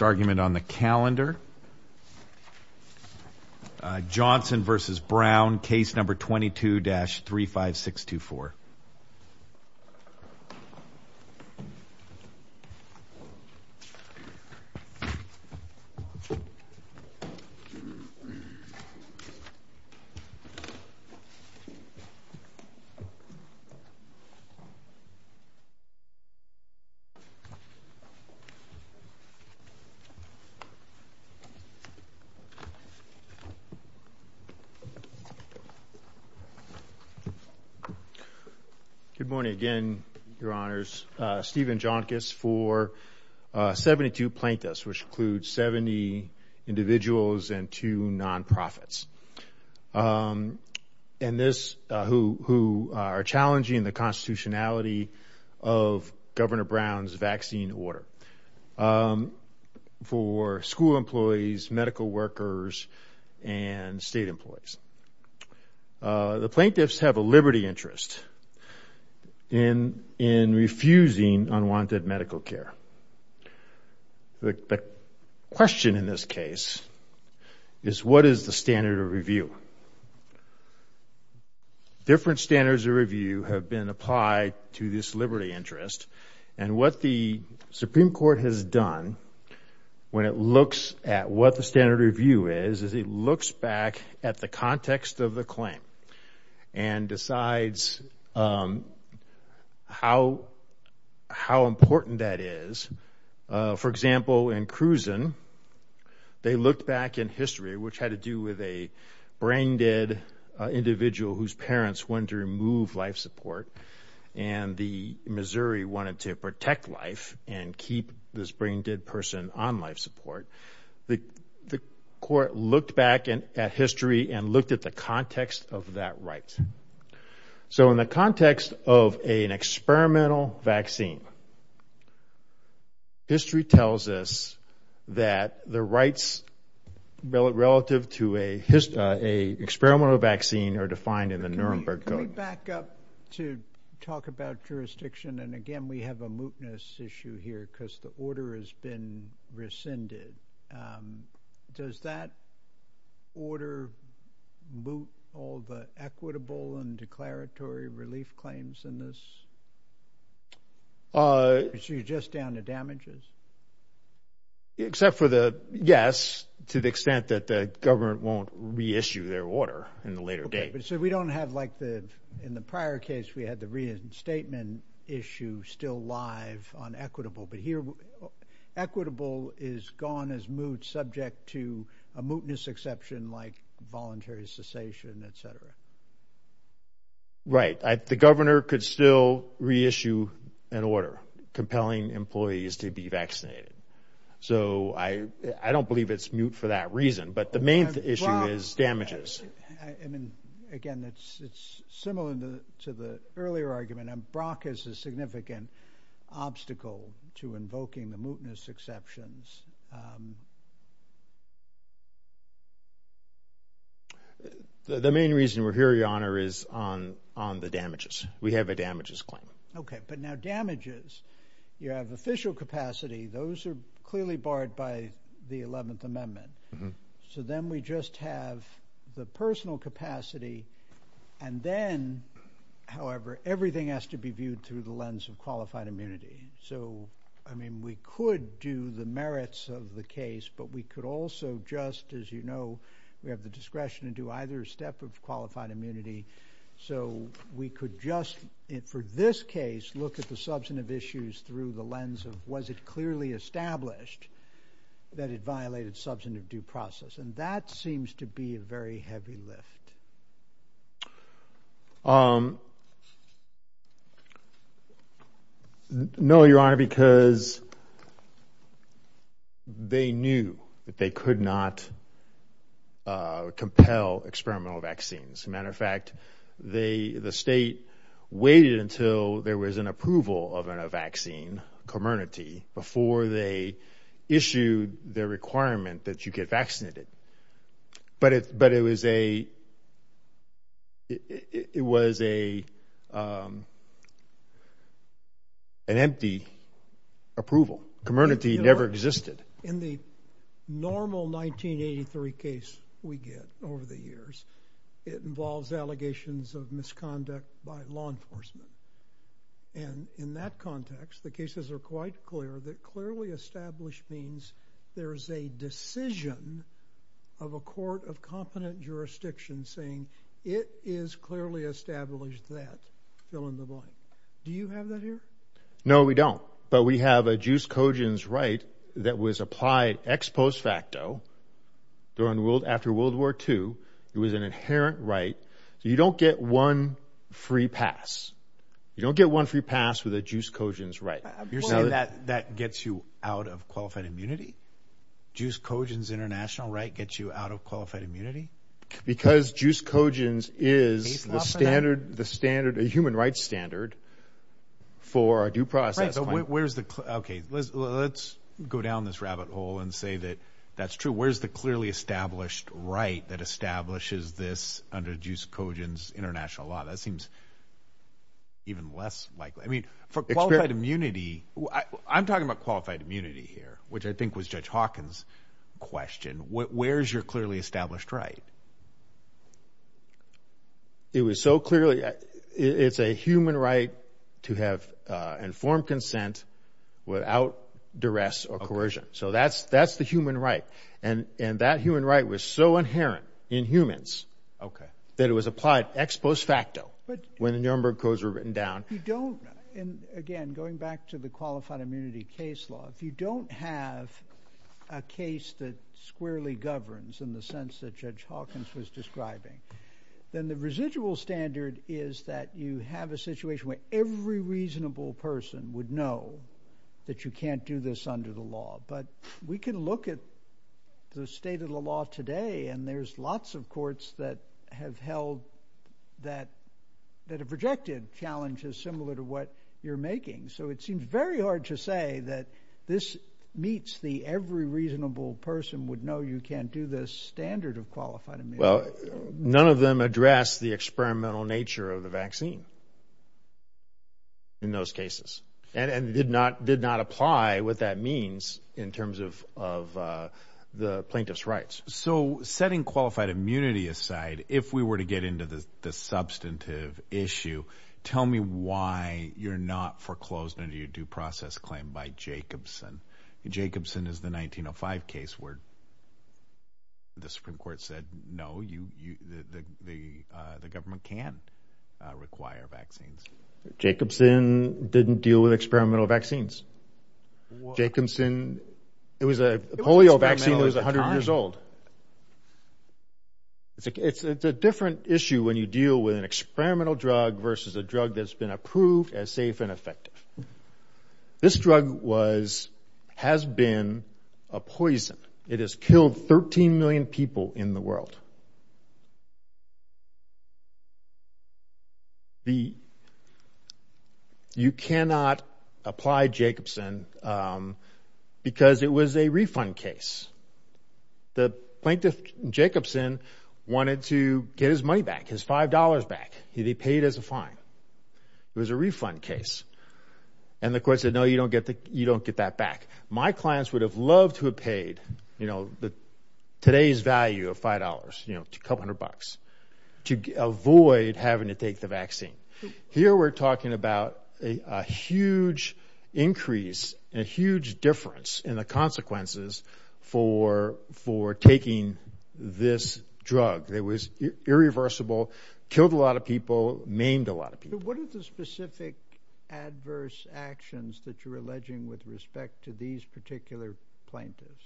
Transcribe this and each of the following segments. argument on the calendar. Johnson v. Brown, case number 22-35624. Good morning again, Your Honors. Stephen Jonkis for 72 plaintiffs, which includes 70 individuals and two non-profits. And this, who are challenging the constitutionality of Governor Brown's vaccine order for school employees, medical workers, and state employees. The plaintiffs have a liberty interest in refusing unwanted medical care. The question in this case is what is the standard of review? Different standards of review have been applied to this case. What the Supreme Court has done when it looks at what the standard of review is, is it looks back at the context of the claim and decides how important that is. For example, in Cruzan, they looked back in history, which had to do with a brain-dead individual whose parents wanted to remove life support and the Missouri wanted to protect life and keep this brain-dead person on life support. The court looked back at history and looked at the context of that right. So in the context of an experimental vaccine, history tells us that the rights relative to an experimental vaccine are defined in the Nuremberg Code. Can we back up to talk about jurisdiction? And again, we have a mootness issue here because the order has been rescinded. Does that order moot all the equitable and declaratory relief claims in this? So you're just down to damages? Except for the, yes, to the extent that the government won't reissue their order in the later date. So we don't have like the, in the prior case, we had the reinstatement issue still live on equitable, but here equitable is gone as moot, subject to a mootness exception like voluntary cessation, etc. Right. The governor could still reissue an order compelling employees to be vaccinated. So I don't believe it's moot for that reason, but the main issue is damages. I mean, again, it's, it's similar to the earlier argument. Brock is a significant obstacle to invoking the mootness exceptions. The main reason we're here, Your Honor, is on, on the damages. We have a damages claim. Okay. But now damages, you have official capacity. Those are clearly barred by the 11th Amendment. So then we just have the personal capacity and then, however, everything has to be viewed through the lens of qualified immunity. So, I mean, we could do the merits of the case, but we could also just, as you know, we have the discretion to do either step of qualified immunity. So we could just, for this case, look at the substantive issues through the lens of was it clearly established that it violated substantive due process? And that seems to be a very heavy lift. No, Your Honor, because they knew that they could not compel experimental vaccines. Matter of fact, the state waited until there was an approval of a vaccine, Comernity, before they issued the requirement that you get vaccinated. But it, but it was a, it was a, an empty approval. Comernity never existed. In the normal 1983 case we get over the years, it involves allegations of misconduct by law enforcement. And in that context, the cases are quite clear that clearly established means there's a decision of a court of competent jurisdiction saying it is clearly established that, fill in the blank. Do you have that here? No, we don't. But we have a Juice Coggins right that was applied ex post facto during World, after World War II. It was an inherent right. So you don't get one free pass. You don't get one free pass with a Juice Coggins right. You're saying that that gets you out of qualified immunity? Juice Coggins international right gets you out of qualified immunity? Because Juice Coggins is the standard, the standard, a human rights standard for a due process. Where's the, okay, let's go down this rabbit hole and say that that's true. Where's the clearly established right that establishes this under Juice Coggins international law? That seems even less likely. I mean, for qualified immunity, I'm talking about qualified immunity here, which I think was Judge Hawkins question. Where's your clearly established right? It was so clearly, it's a human right to have informed consent without duress or coercion. So that's the human right. And that human right was so inherent in humans that it was applied ex post facto when the Nuremberg codes were written down. You don't, and again, going back to the qualified immunity case law, if you don't have a case that squarely governs in the sense that Judge Hawkins was describing, then the residual standard is that you have a situation where every reasonable person would know that you can't do this under the law. But we can look at the state of the law today and there's lots of courts that have held that, that have rejected challenges similar to what you're making. So it seems very hard to say that this meets the every reasonable person would know you can't do this standard of qualified immunity. Well, none of them address the experimental nature of the vaccine in those cases and did not apply what that means in terms of the plaintiff's rights. So setting qualified immunity aside, if we were to get into the substantive issue, tell me why you're not foreclosed under your due process claim by Jacobson. Jacobson is the 1905 case where the Supreme Court said, no, you, you, the, the, uh, the government can require vaccines. Jacobson didn't deal with experimental vaccines. Jacobson, it was a polio vaccine that was a hundred years old. It's like, it's a different issue when you deal with an experimental drug versus a drug that's been approved as safe and effective. This drug was, has been a poison. It has killed 13 million people in the world. The, you cannot apply Jacobson, um, because it was a refund case. The plaintiff Jacobson wanted to get his money back, his $5 back. He paid as a fine. It was a refund case. And the court said, no, you don't get the, you don't get that back. My clients would have loved to have paid, you know, the today's value of $5, you know, a couple hundred bucks to avoid having to take the vaccine. Here, we're talking about a huge increase, a huge difference in the consequences for, for taking this drug. It was irreversible, killed a lot of people, maimed a lot of people. What are the specific adverse actions that you're alleging with respect to these particular plaintiffs?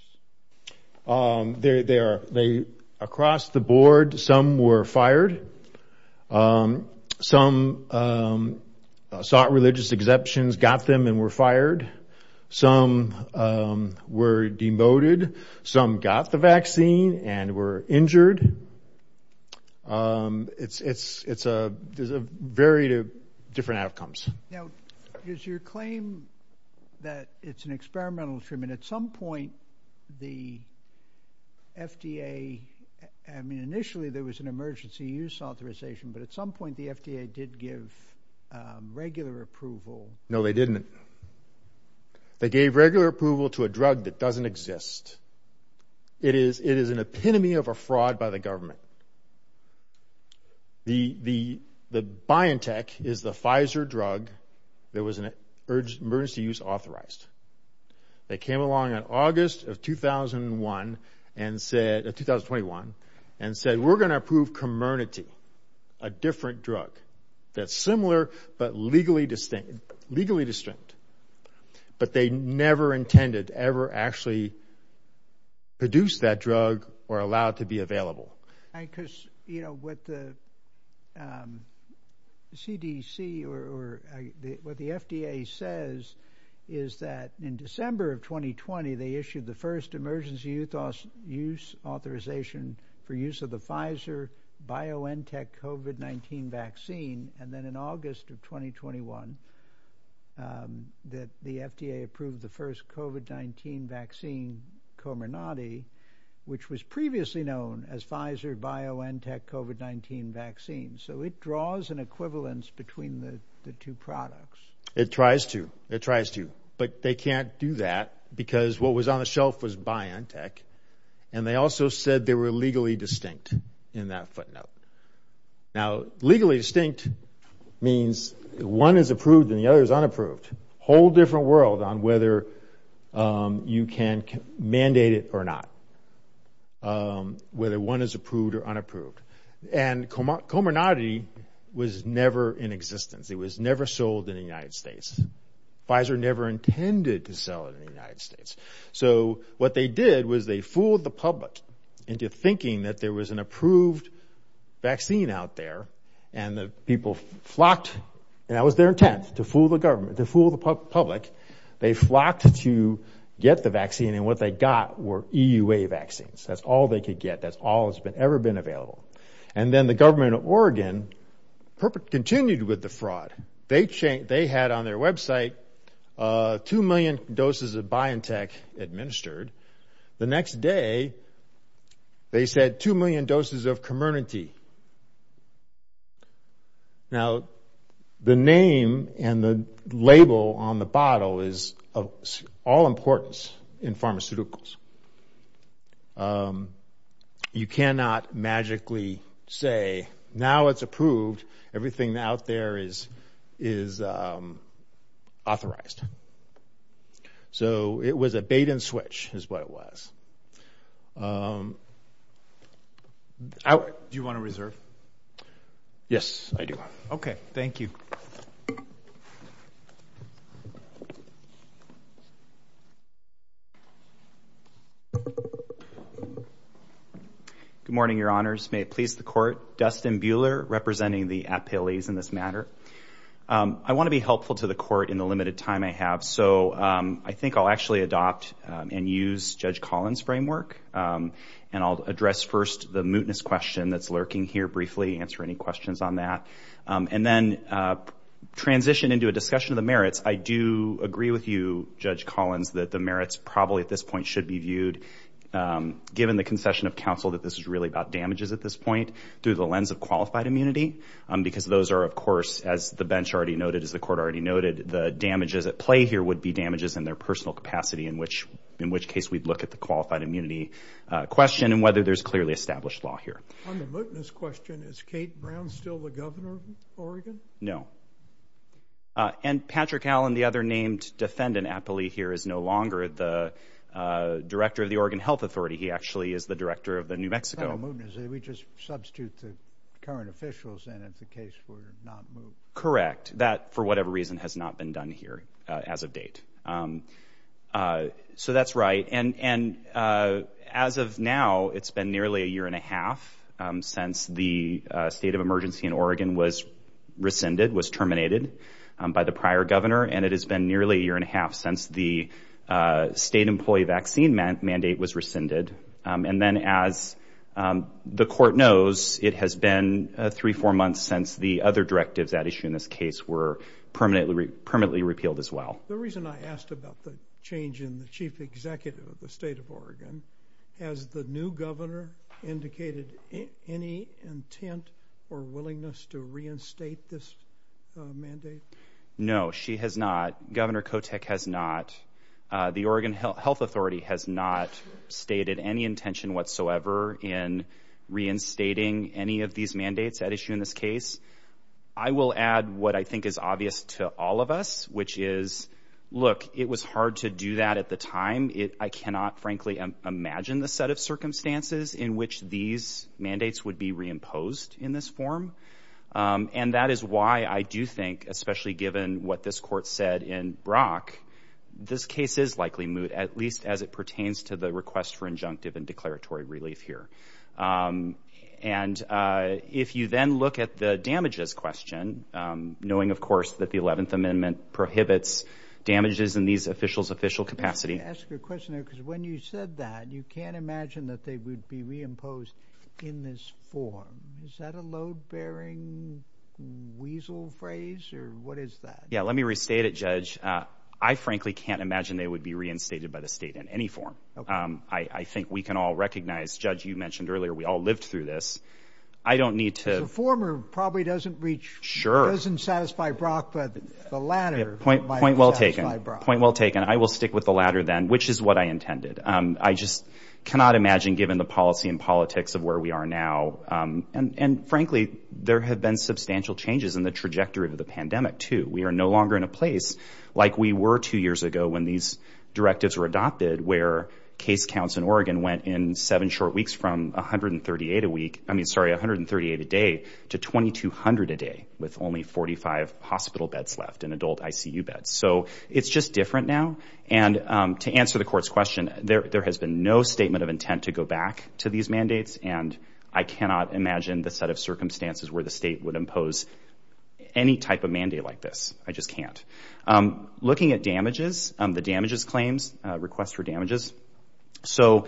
Um, they, they are, they, across the board, some were fired. Um, some, um, sought religious exceptions, got them and were fired. Some, um, were demoted. Some got the vaccine and were injured. Um, it's, it's, it's a, there's a varied of different outcomes. Now, is your claim that it's an experimental treatment? At some point, the FDA, I mean, initially there was an emergency use authorization, but at some point the FDA did give, um, regular approval. No, they didn't. They gave regular approval to a drug that doesn't exist. It is, it is an epitome of a fraud by the government. The, the, the BioNTech is the Pfizer drug that was an emergency use authorized. They came along in August of 2001 and said, uh, 2021, and said, we're going to approve Comirnaty, a different drug that's similar, but legally distinct, legally distinct. But they never intended to ever actually produce that drug or allow it to be available. Because, you know, what the, um, CDC or what the FDA says is that in December of 2020, they issued the first emergency use authorization for use of the Pfizer BioNTech COVID-19 vaccine. And then in August of 2021, um, that the FDA approved the first COVID-19 vaccine, Comirnaty, which was previously known as Pfizer BioNTech COVID-19 vaccine. So it draws an equivalence between the two products. It tries to, it tries to, but they can't do that because what was on the shelf was BioNTech. And they also said they were legally distinct in that footnote. Now, legally distinct means one is approved and the other is unapproved, whole different world on whether, um, you can mandate it or not, um, whether one is approved or unapproved. And Comirnaty was never in existence. It was never sold in the United States. Pfizer never intended to sell it in the United States. So what they did was they fooled the vaccine out there and the people flocked. And that was their intent to fool the government, to fool the public. They flocked to get the vaccine and what they got were EUA vaccines. That's all they could get. That's all it's been ever been available. And then the government of Oregon continued with the fraud. They changed, they had on their website, uh, 2 million doses of BioNTech administered. The next day they said 2 million doses of Comirnaty. Now the name and the label on the bottle is of all importance in pharmaceuticals. You cannot magically say now it's approved. Everything out there is, is, um, authorized. So it was a bait and switch is what it was. Um, do you want to reserve? Yes, I do. Okay. Thank you. Good morning, your honors. May it please the court. Dustin Buehler representing the So, um, I think I'll actually adopt, um, and use judge Collins framework. Um, and I'll address first the mootness question that's lurking here briefly, answer any questions on that. Um, and then, uh, transition into a discussion of the merits. I do agree with you, judge Collins, that the merits probably at this point should be viewed, um, given the concession of counsel, that this is really about damages at this point through the lens of qualified immunity. Um, because those are, of course, as the bench already noted, as the court already noted, the damages at play here would be damages in their personal capacity, in which, in which case we'd look at the qualified immunity, uh, question and whether there's clearly established law here. On the mootness question, is Kate Brown still the governor of Oregon? No. Uh, and Patrick Allen, the other named defendant aptly here is no longer the, uh, director of the Oregon Health Authority. He actually is the director of the New Mexico mootness. We just substitute the current officials. And if the case were not moved, correct, that for whatever reason has not been done here, uh, as of date. Um, uh, so that's right. And, and, uh, as of now, it's been nearly a year and a half, um, since the state of emergency in Oregon was rescinded, was terminated, um, by the prior governor. And it has been nearly a year and a half since the, uh, state employee vaccine mandate was rescinded. Um, and then as, um, the court knows it has been a three, four months since the other directives that issue in this case were permanently, permanently repealed as well. The reason I asked about the change in the chief executive of the state of Oregon has the new governor indicated any intent or willingness to reinstate this mandate? No, she has not. Governor Kotick has not. Uh, the Oregon Health Authority has not stated any intention whatsoever in reinstating any of these mandates that issue in this case. I will add what I think is obvious to all of us, which is, look, it was hard to do that at the time. It, I cannot frankly imagine the set of circumstances in which these mandates would be reimposed in this form. Um, and that is why I do think, especially given what this court said in Brock, this case is likely moot, at least as it pertains to the request for injunctive and declaratory relief here. Um, and, uh, if you then look at the damages question, um, knowing, of course, that the 11th amendment prohibits damages in these officials' official capacity. Can I ask you a question there? Because when you said that, you can't imagine that they would be reimposed in this form. Is that a load bearing weasel phrase or what is that? Yeah, let me restate it, Judge. Uh, I frankly can't imagine they would be reinstated by the state in any form. Um, I, I think we can all recognize, Judge, you mentioned earlier, we all lived through this. I don't need to... The former probably doesn't reach... Sure. ...doesn't satisfy Brock, but the latter... Point well taken. Point well taken. I will stick with the latter then, which is what I intended. Um, I just cannot imagine given the policy and politics of where we are now. Um, and, and frankly, there have been substantial changes in the trajectory of the pandemic too. We are no longer in a place like we were two years ago when these directives were adopted, where case counts in Oregon went in seven short weeks from 138 a week, I mean, sorry, 138 a day to 2200 a day with only 45 hospital beds left and adult ICU beds. So it's just different now. And, um, to answer the court's question, there, there has been no statement of intent to go back to these mandates. And I cannot imagine the set of circumstances where the state would impose any type of mandate like this. I just can't. Um, looking at damages, um, the damages claims, uh, requests for damages. So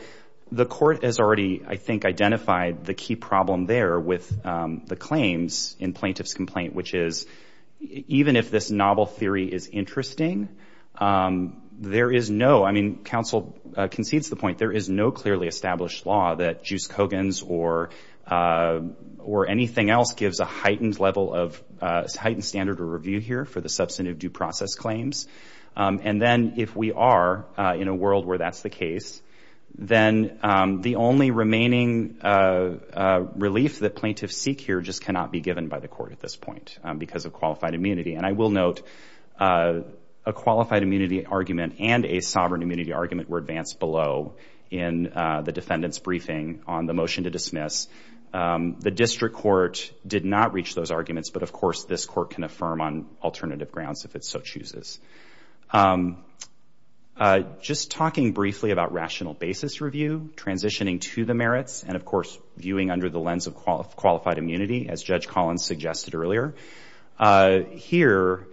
the court has already, I think, identified the key problem there with, um, the claims in plaintiff's complaint, which is even if this novel theory is interesting, um, there is no, I mean, counsel concedes the or anything else gives a heightened level of, uh, heightened standard of review here for the substantive due process claims. Um, and then if we are, uh, in a world where that's the case, then, um, the only remaining, uh, uh, relief that plaintiffs seek here just cannot be given by the court at this point, um, because of qualified immunity. And I will note, uh, a qualified immunity argument and a sovereign immunity argument were advanced below in, uh, the defendant's the district court did not reach those arguments, but of course this court can affirm on alternative grounds if it's so chooses. Um, uh, just talking briefly about rational basis review, transitioning to the merits and of course, viewing under the lens of qualified immunity as judge Collins suggested earlier, uh, here,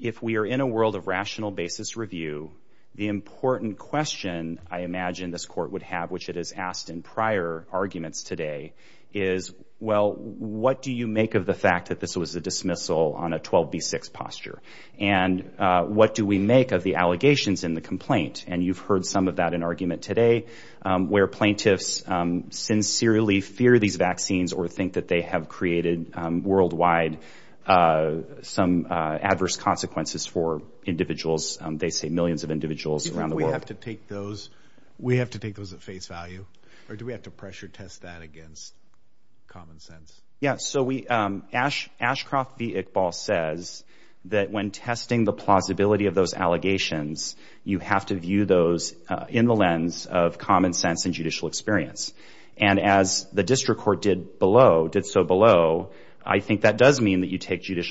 if we are in a world of rational basis review, the important question I imagine this court would have, which it is asked in prior arguments today is, well, what do you make of the fact that this was a dismissal on a 12 B six posture? And, uh, what do we make of the allegations in the complaint? And you've heard some of that in argument today, um, where plaintiffs, um, sincerely fear these vaccines or think that they have created, um, worldwide, uh, some, uh, adverse consequences for individuals. Um, they say millions of individuals around the world have to take those. We have to take those at face value or do we have to pressure test that against common sense? Yeah. So we, um, Ash Ashcroft, the Iqbal says that when testing the plausibility of those allegations, you have to view those in the lens of common sense and judicial experience. And as the district court did below, did so below, I think that does mean that you take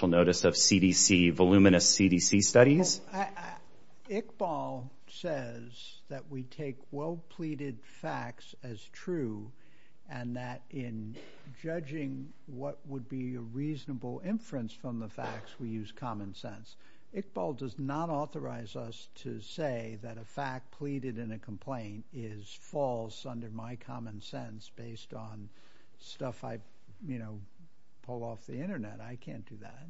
well pleaded facts as true and that in judging what would be a reasonable inference from the facts, we use common sense. Iqbal does not authorize us to say that a fact pleaded in a complaint is false under my common sense based on stuff I, you know, pull off the internet. I can't do that.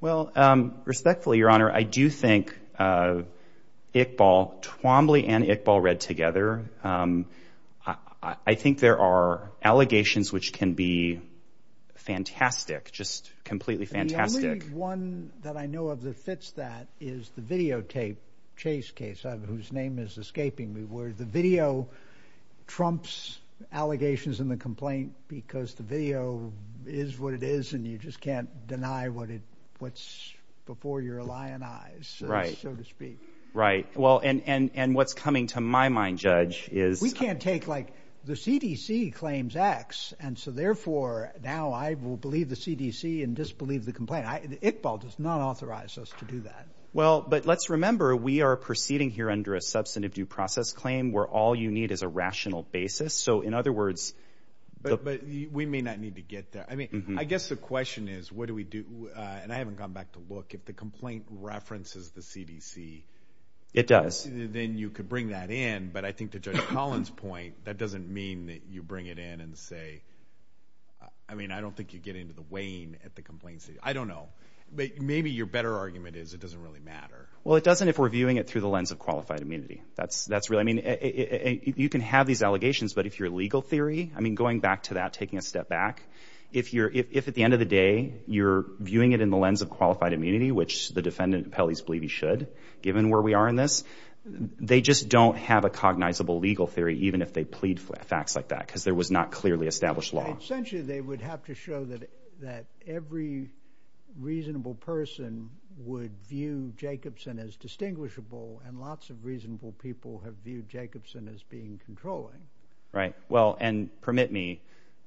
Well, um, respectfully, Your Honor, I do think, uh, Iqbal Twombly and Iqbal read together. Um, I think there are allegations which can be fantastic, just completely fantastic. One that I know of that fits that is the videotape chase case whose name is escaping me, where the video trumps allegations in the complaint because the video is what it is. And you just can't deny what it what's before your lion eyes, so to speak. Right. Well, and and and what's coming to my mind, Judge, is we can't take like the CDC claims X. And so therefore, now I will believe the CDC and disbelieve the complaint. Iqbal does not authorize us to do that. Well, but let's remember we are proceeding here under a substantive due process claim where all you need is a rational basis. So in other words, but we may not need to get there. I mean, I guess the question is, what do we do? And I haven't gone back to look at the complaint references the CDC. It does. Then you could bring that in. But I think to Judge Collins point, that doesn't mean that you bring it in and say, I mean, I don't think you get into the wane at the complaints. I don't know. But maybe your better argument is it doesn't really matter. Well, it doesn't if we're viewing it through the lens of qualified immunity. That's that's really I mean, you can have these allegations. But if you're legal theory, I mean, going back to that, taking a step back, if you're if at the end of the day, you're viewing it in the lens of qualified immunity, which the defendant appellees believe he should, given where we are in this, they just don't have a cognizable legal theory, even if they plead for facts like that, because there was not clearly established law. Essentially, they would have to show that that every reasonable person would view Jacobson as distinguishable. And lots of reasonable people have viewed Jacobson as being controlling. Right. Well, and permit me,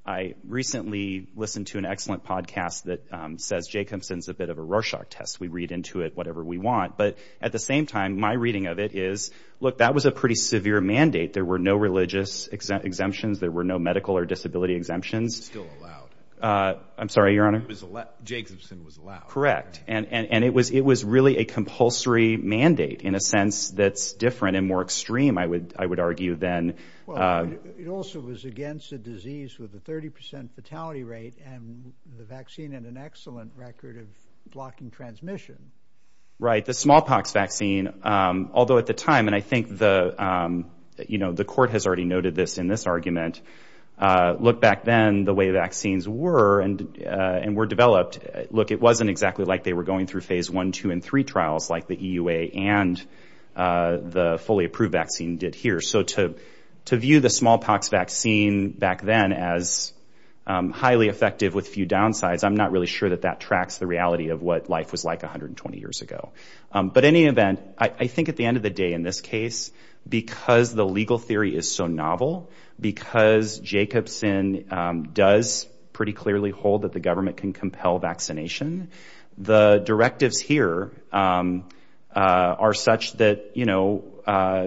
I recently listened to an excellent podcast that says Jacobson's a bit of a Rorschach test. We read into it, whatever we want. But at the same time, my reading of it is, look, that was a pretty severe mandate. There were no religious exemptions. There were no medical or disability exemptions. Still allowed. I'm sorry, Your Honor. Jacobson was allowed. Correct. And it was it was really a compulsory mandate in a sense that's different and more extreme, I would I would argue, then it also was against a disease with a 30 percent fatality rate and the vaccine and an excellent record of blocking transmission. Right. The smallpox vaccine, although at the time and I think the you know, the court has already noted this in this argument. Look back then, the way vaccines were and and were developed. Look, it wasn't exactly like they were going through phase one, two and three trials like the EUA and the fully approved vaccine did here. So to to view the smallpox vaccine back then as highly effective with few downsides, I'm not really sure that that tracks the reality of what life was like 120 years ago. But any event, I think at the end of the day, in this case, because the legal theory is so novel, because Jacobson does pretty clearly hold the government can compel vaccination. The directives here are such that, you know,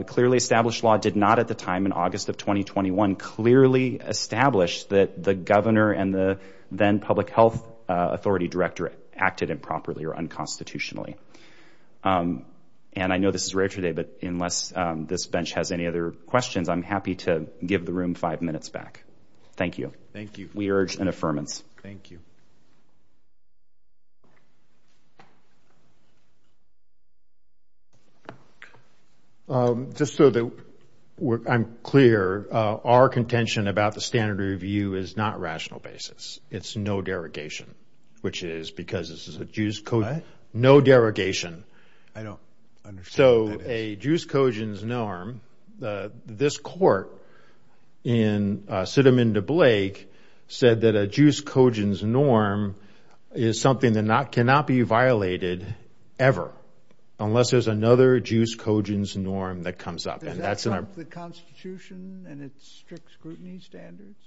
clearly established law did not at the time in August of 2021 clearly established that the governor and the then public health authority director acted improperly or unconstitutionally. And I know this is rare today, but unless this bench has any other questions, I'm happy to answer them. Thank you. Just so that I'm clear, our contention about the standard review is not rational basis. It's no derogation, which is because this is a juice code, no derogation. I don't understand. So a juice codons norm, this court in Sittemann to Blake said that a juice codons norm is something that not cannot be violated ever unless there's another juice codons norm that comes up. And that's the Constitution and its strict scrutiny standards.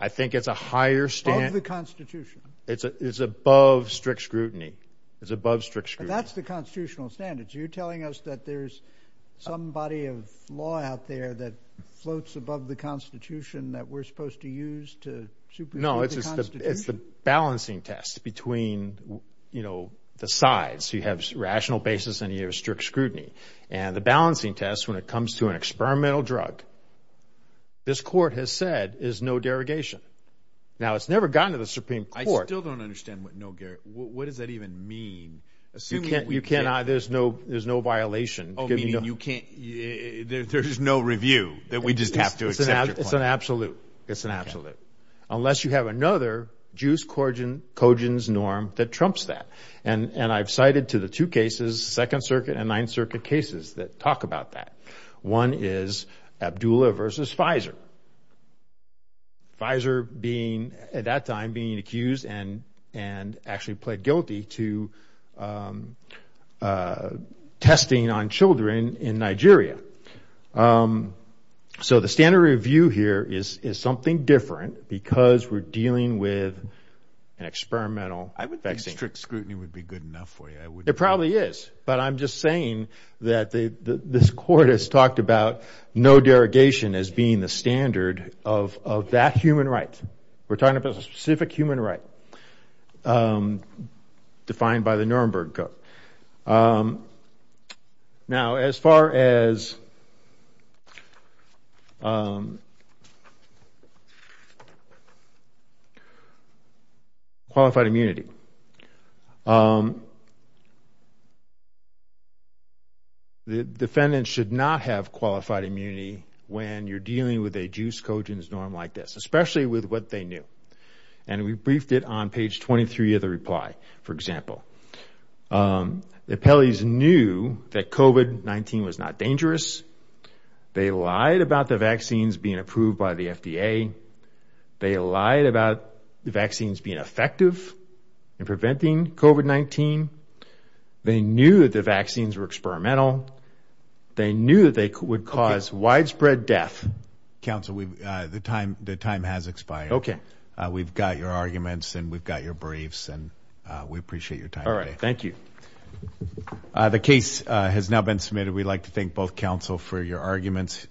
I think it's a higher standard of the Constitution. It's above strict scrutiny. It's above strict. That's the constitutional standards. You're telling us that there's some body of law out there that floats above the Constitution that we're supposed to use to. No, it's just it's the balancing test between, you know, the sides. You have rational basis and you have strict scrutiny and the balancing test when it comes to an experimental drug. This court has said is no derogation. Now, it's never gotten to the Supreme Court. I still don't understand what no. What does that even mean? You can't you cannot. There's no there's no violation. You can't. There's no review that we just have to. It's an absolute. It's an absolute. Unless you have another juice codons norm that trumps that. And I've cited to the two cases, Second Circuit and Ninth Circuit cases that talk about that. One is Abdullah versus Pfizer. Pfizer being at that time being accused and and actually pled guilty to testing on children in Nigeria. So the standard review here is something different because we're dealing with an experimental. I would think strict scrutiny would be good enough for you. It probably is. But I'm just saying that this court has talked about no derogation as being the standard of that human right. We're talking about a specific human right defined by the Nuremberg Code. Now, as far as the defendant should not have qualified immunity when you're dealing with a juice codons norm like this, especially with what they knew. And we briefed it on page twenty-three of the reply. For example, the appellees knew that COVID-19 was not dangerous. They lied about the vaccines being approved by the FDA. They lied about the vaccines being effective in preventing COVID-19. They knew the vaccines were experimental. They knew they would cause widespread death. Counsel, we've the time the time has expired. Okay. We've got your arguments and we've got your briefs and we appreciate your time. All right. Thank you. The case has now been submitted. We'd like to thank both counsel for your arguments.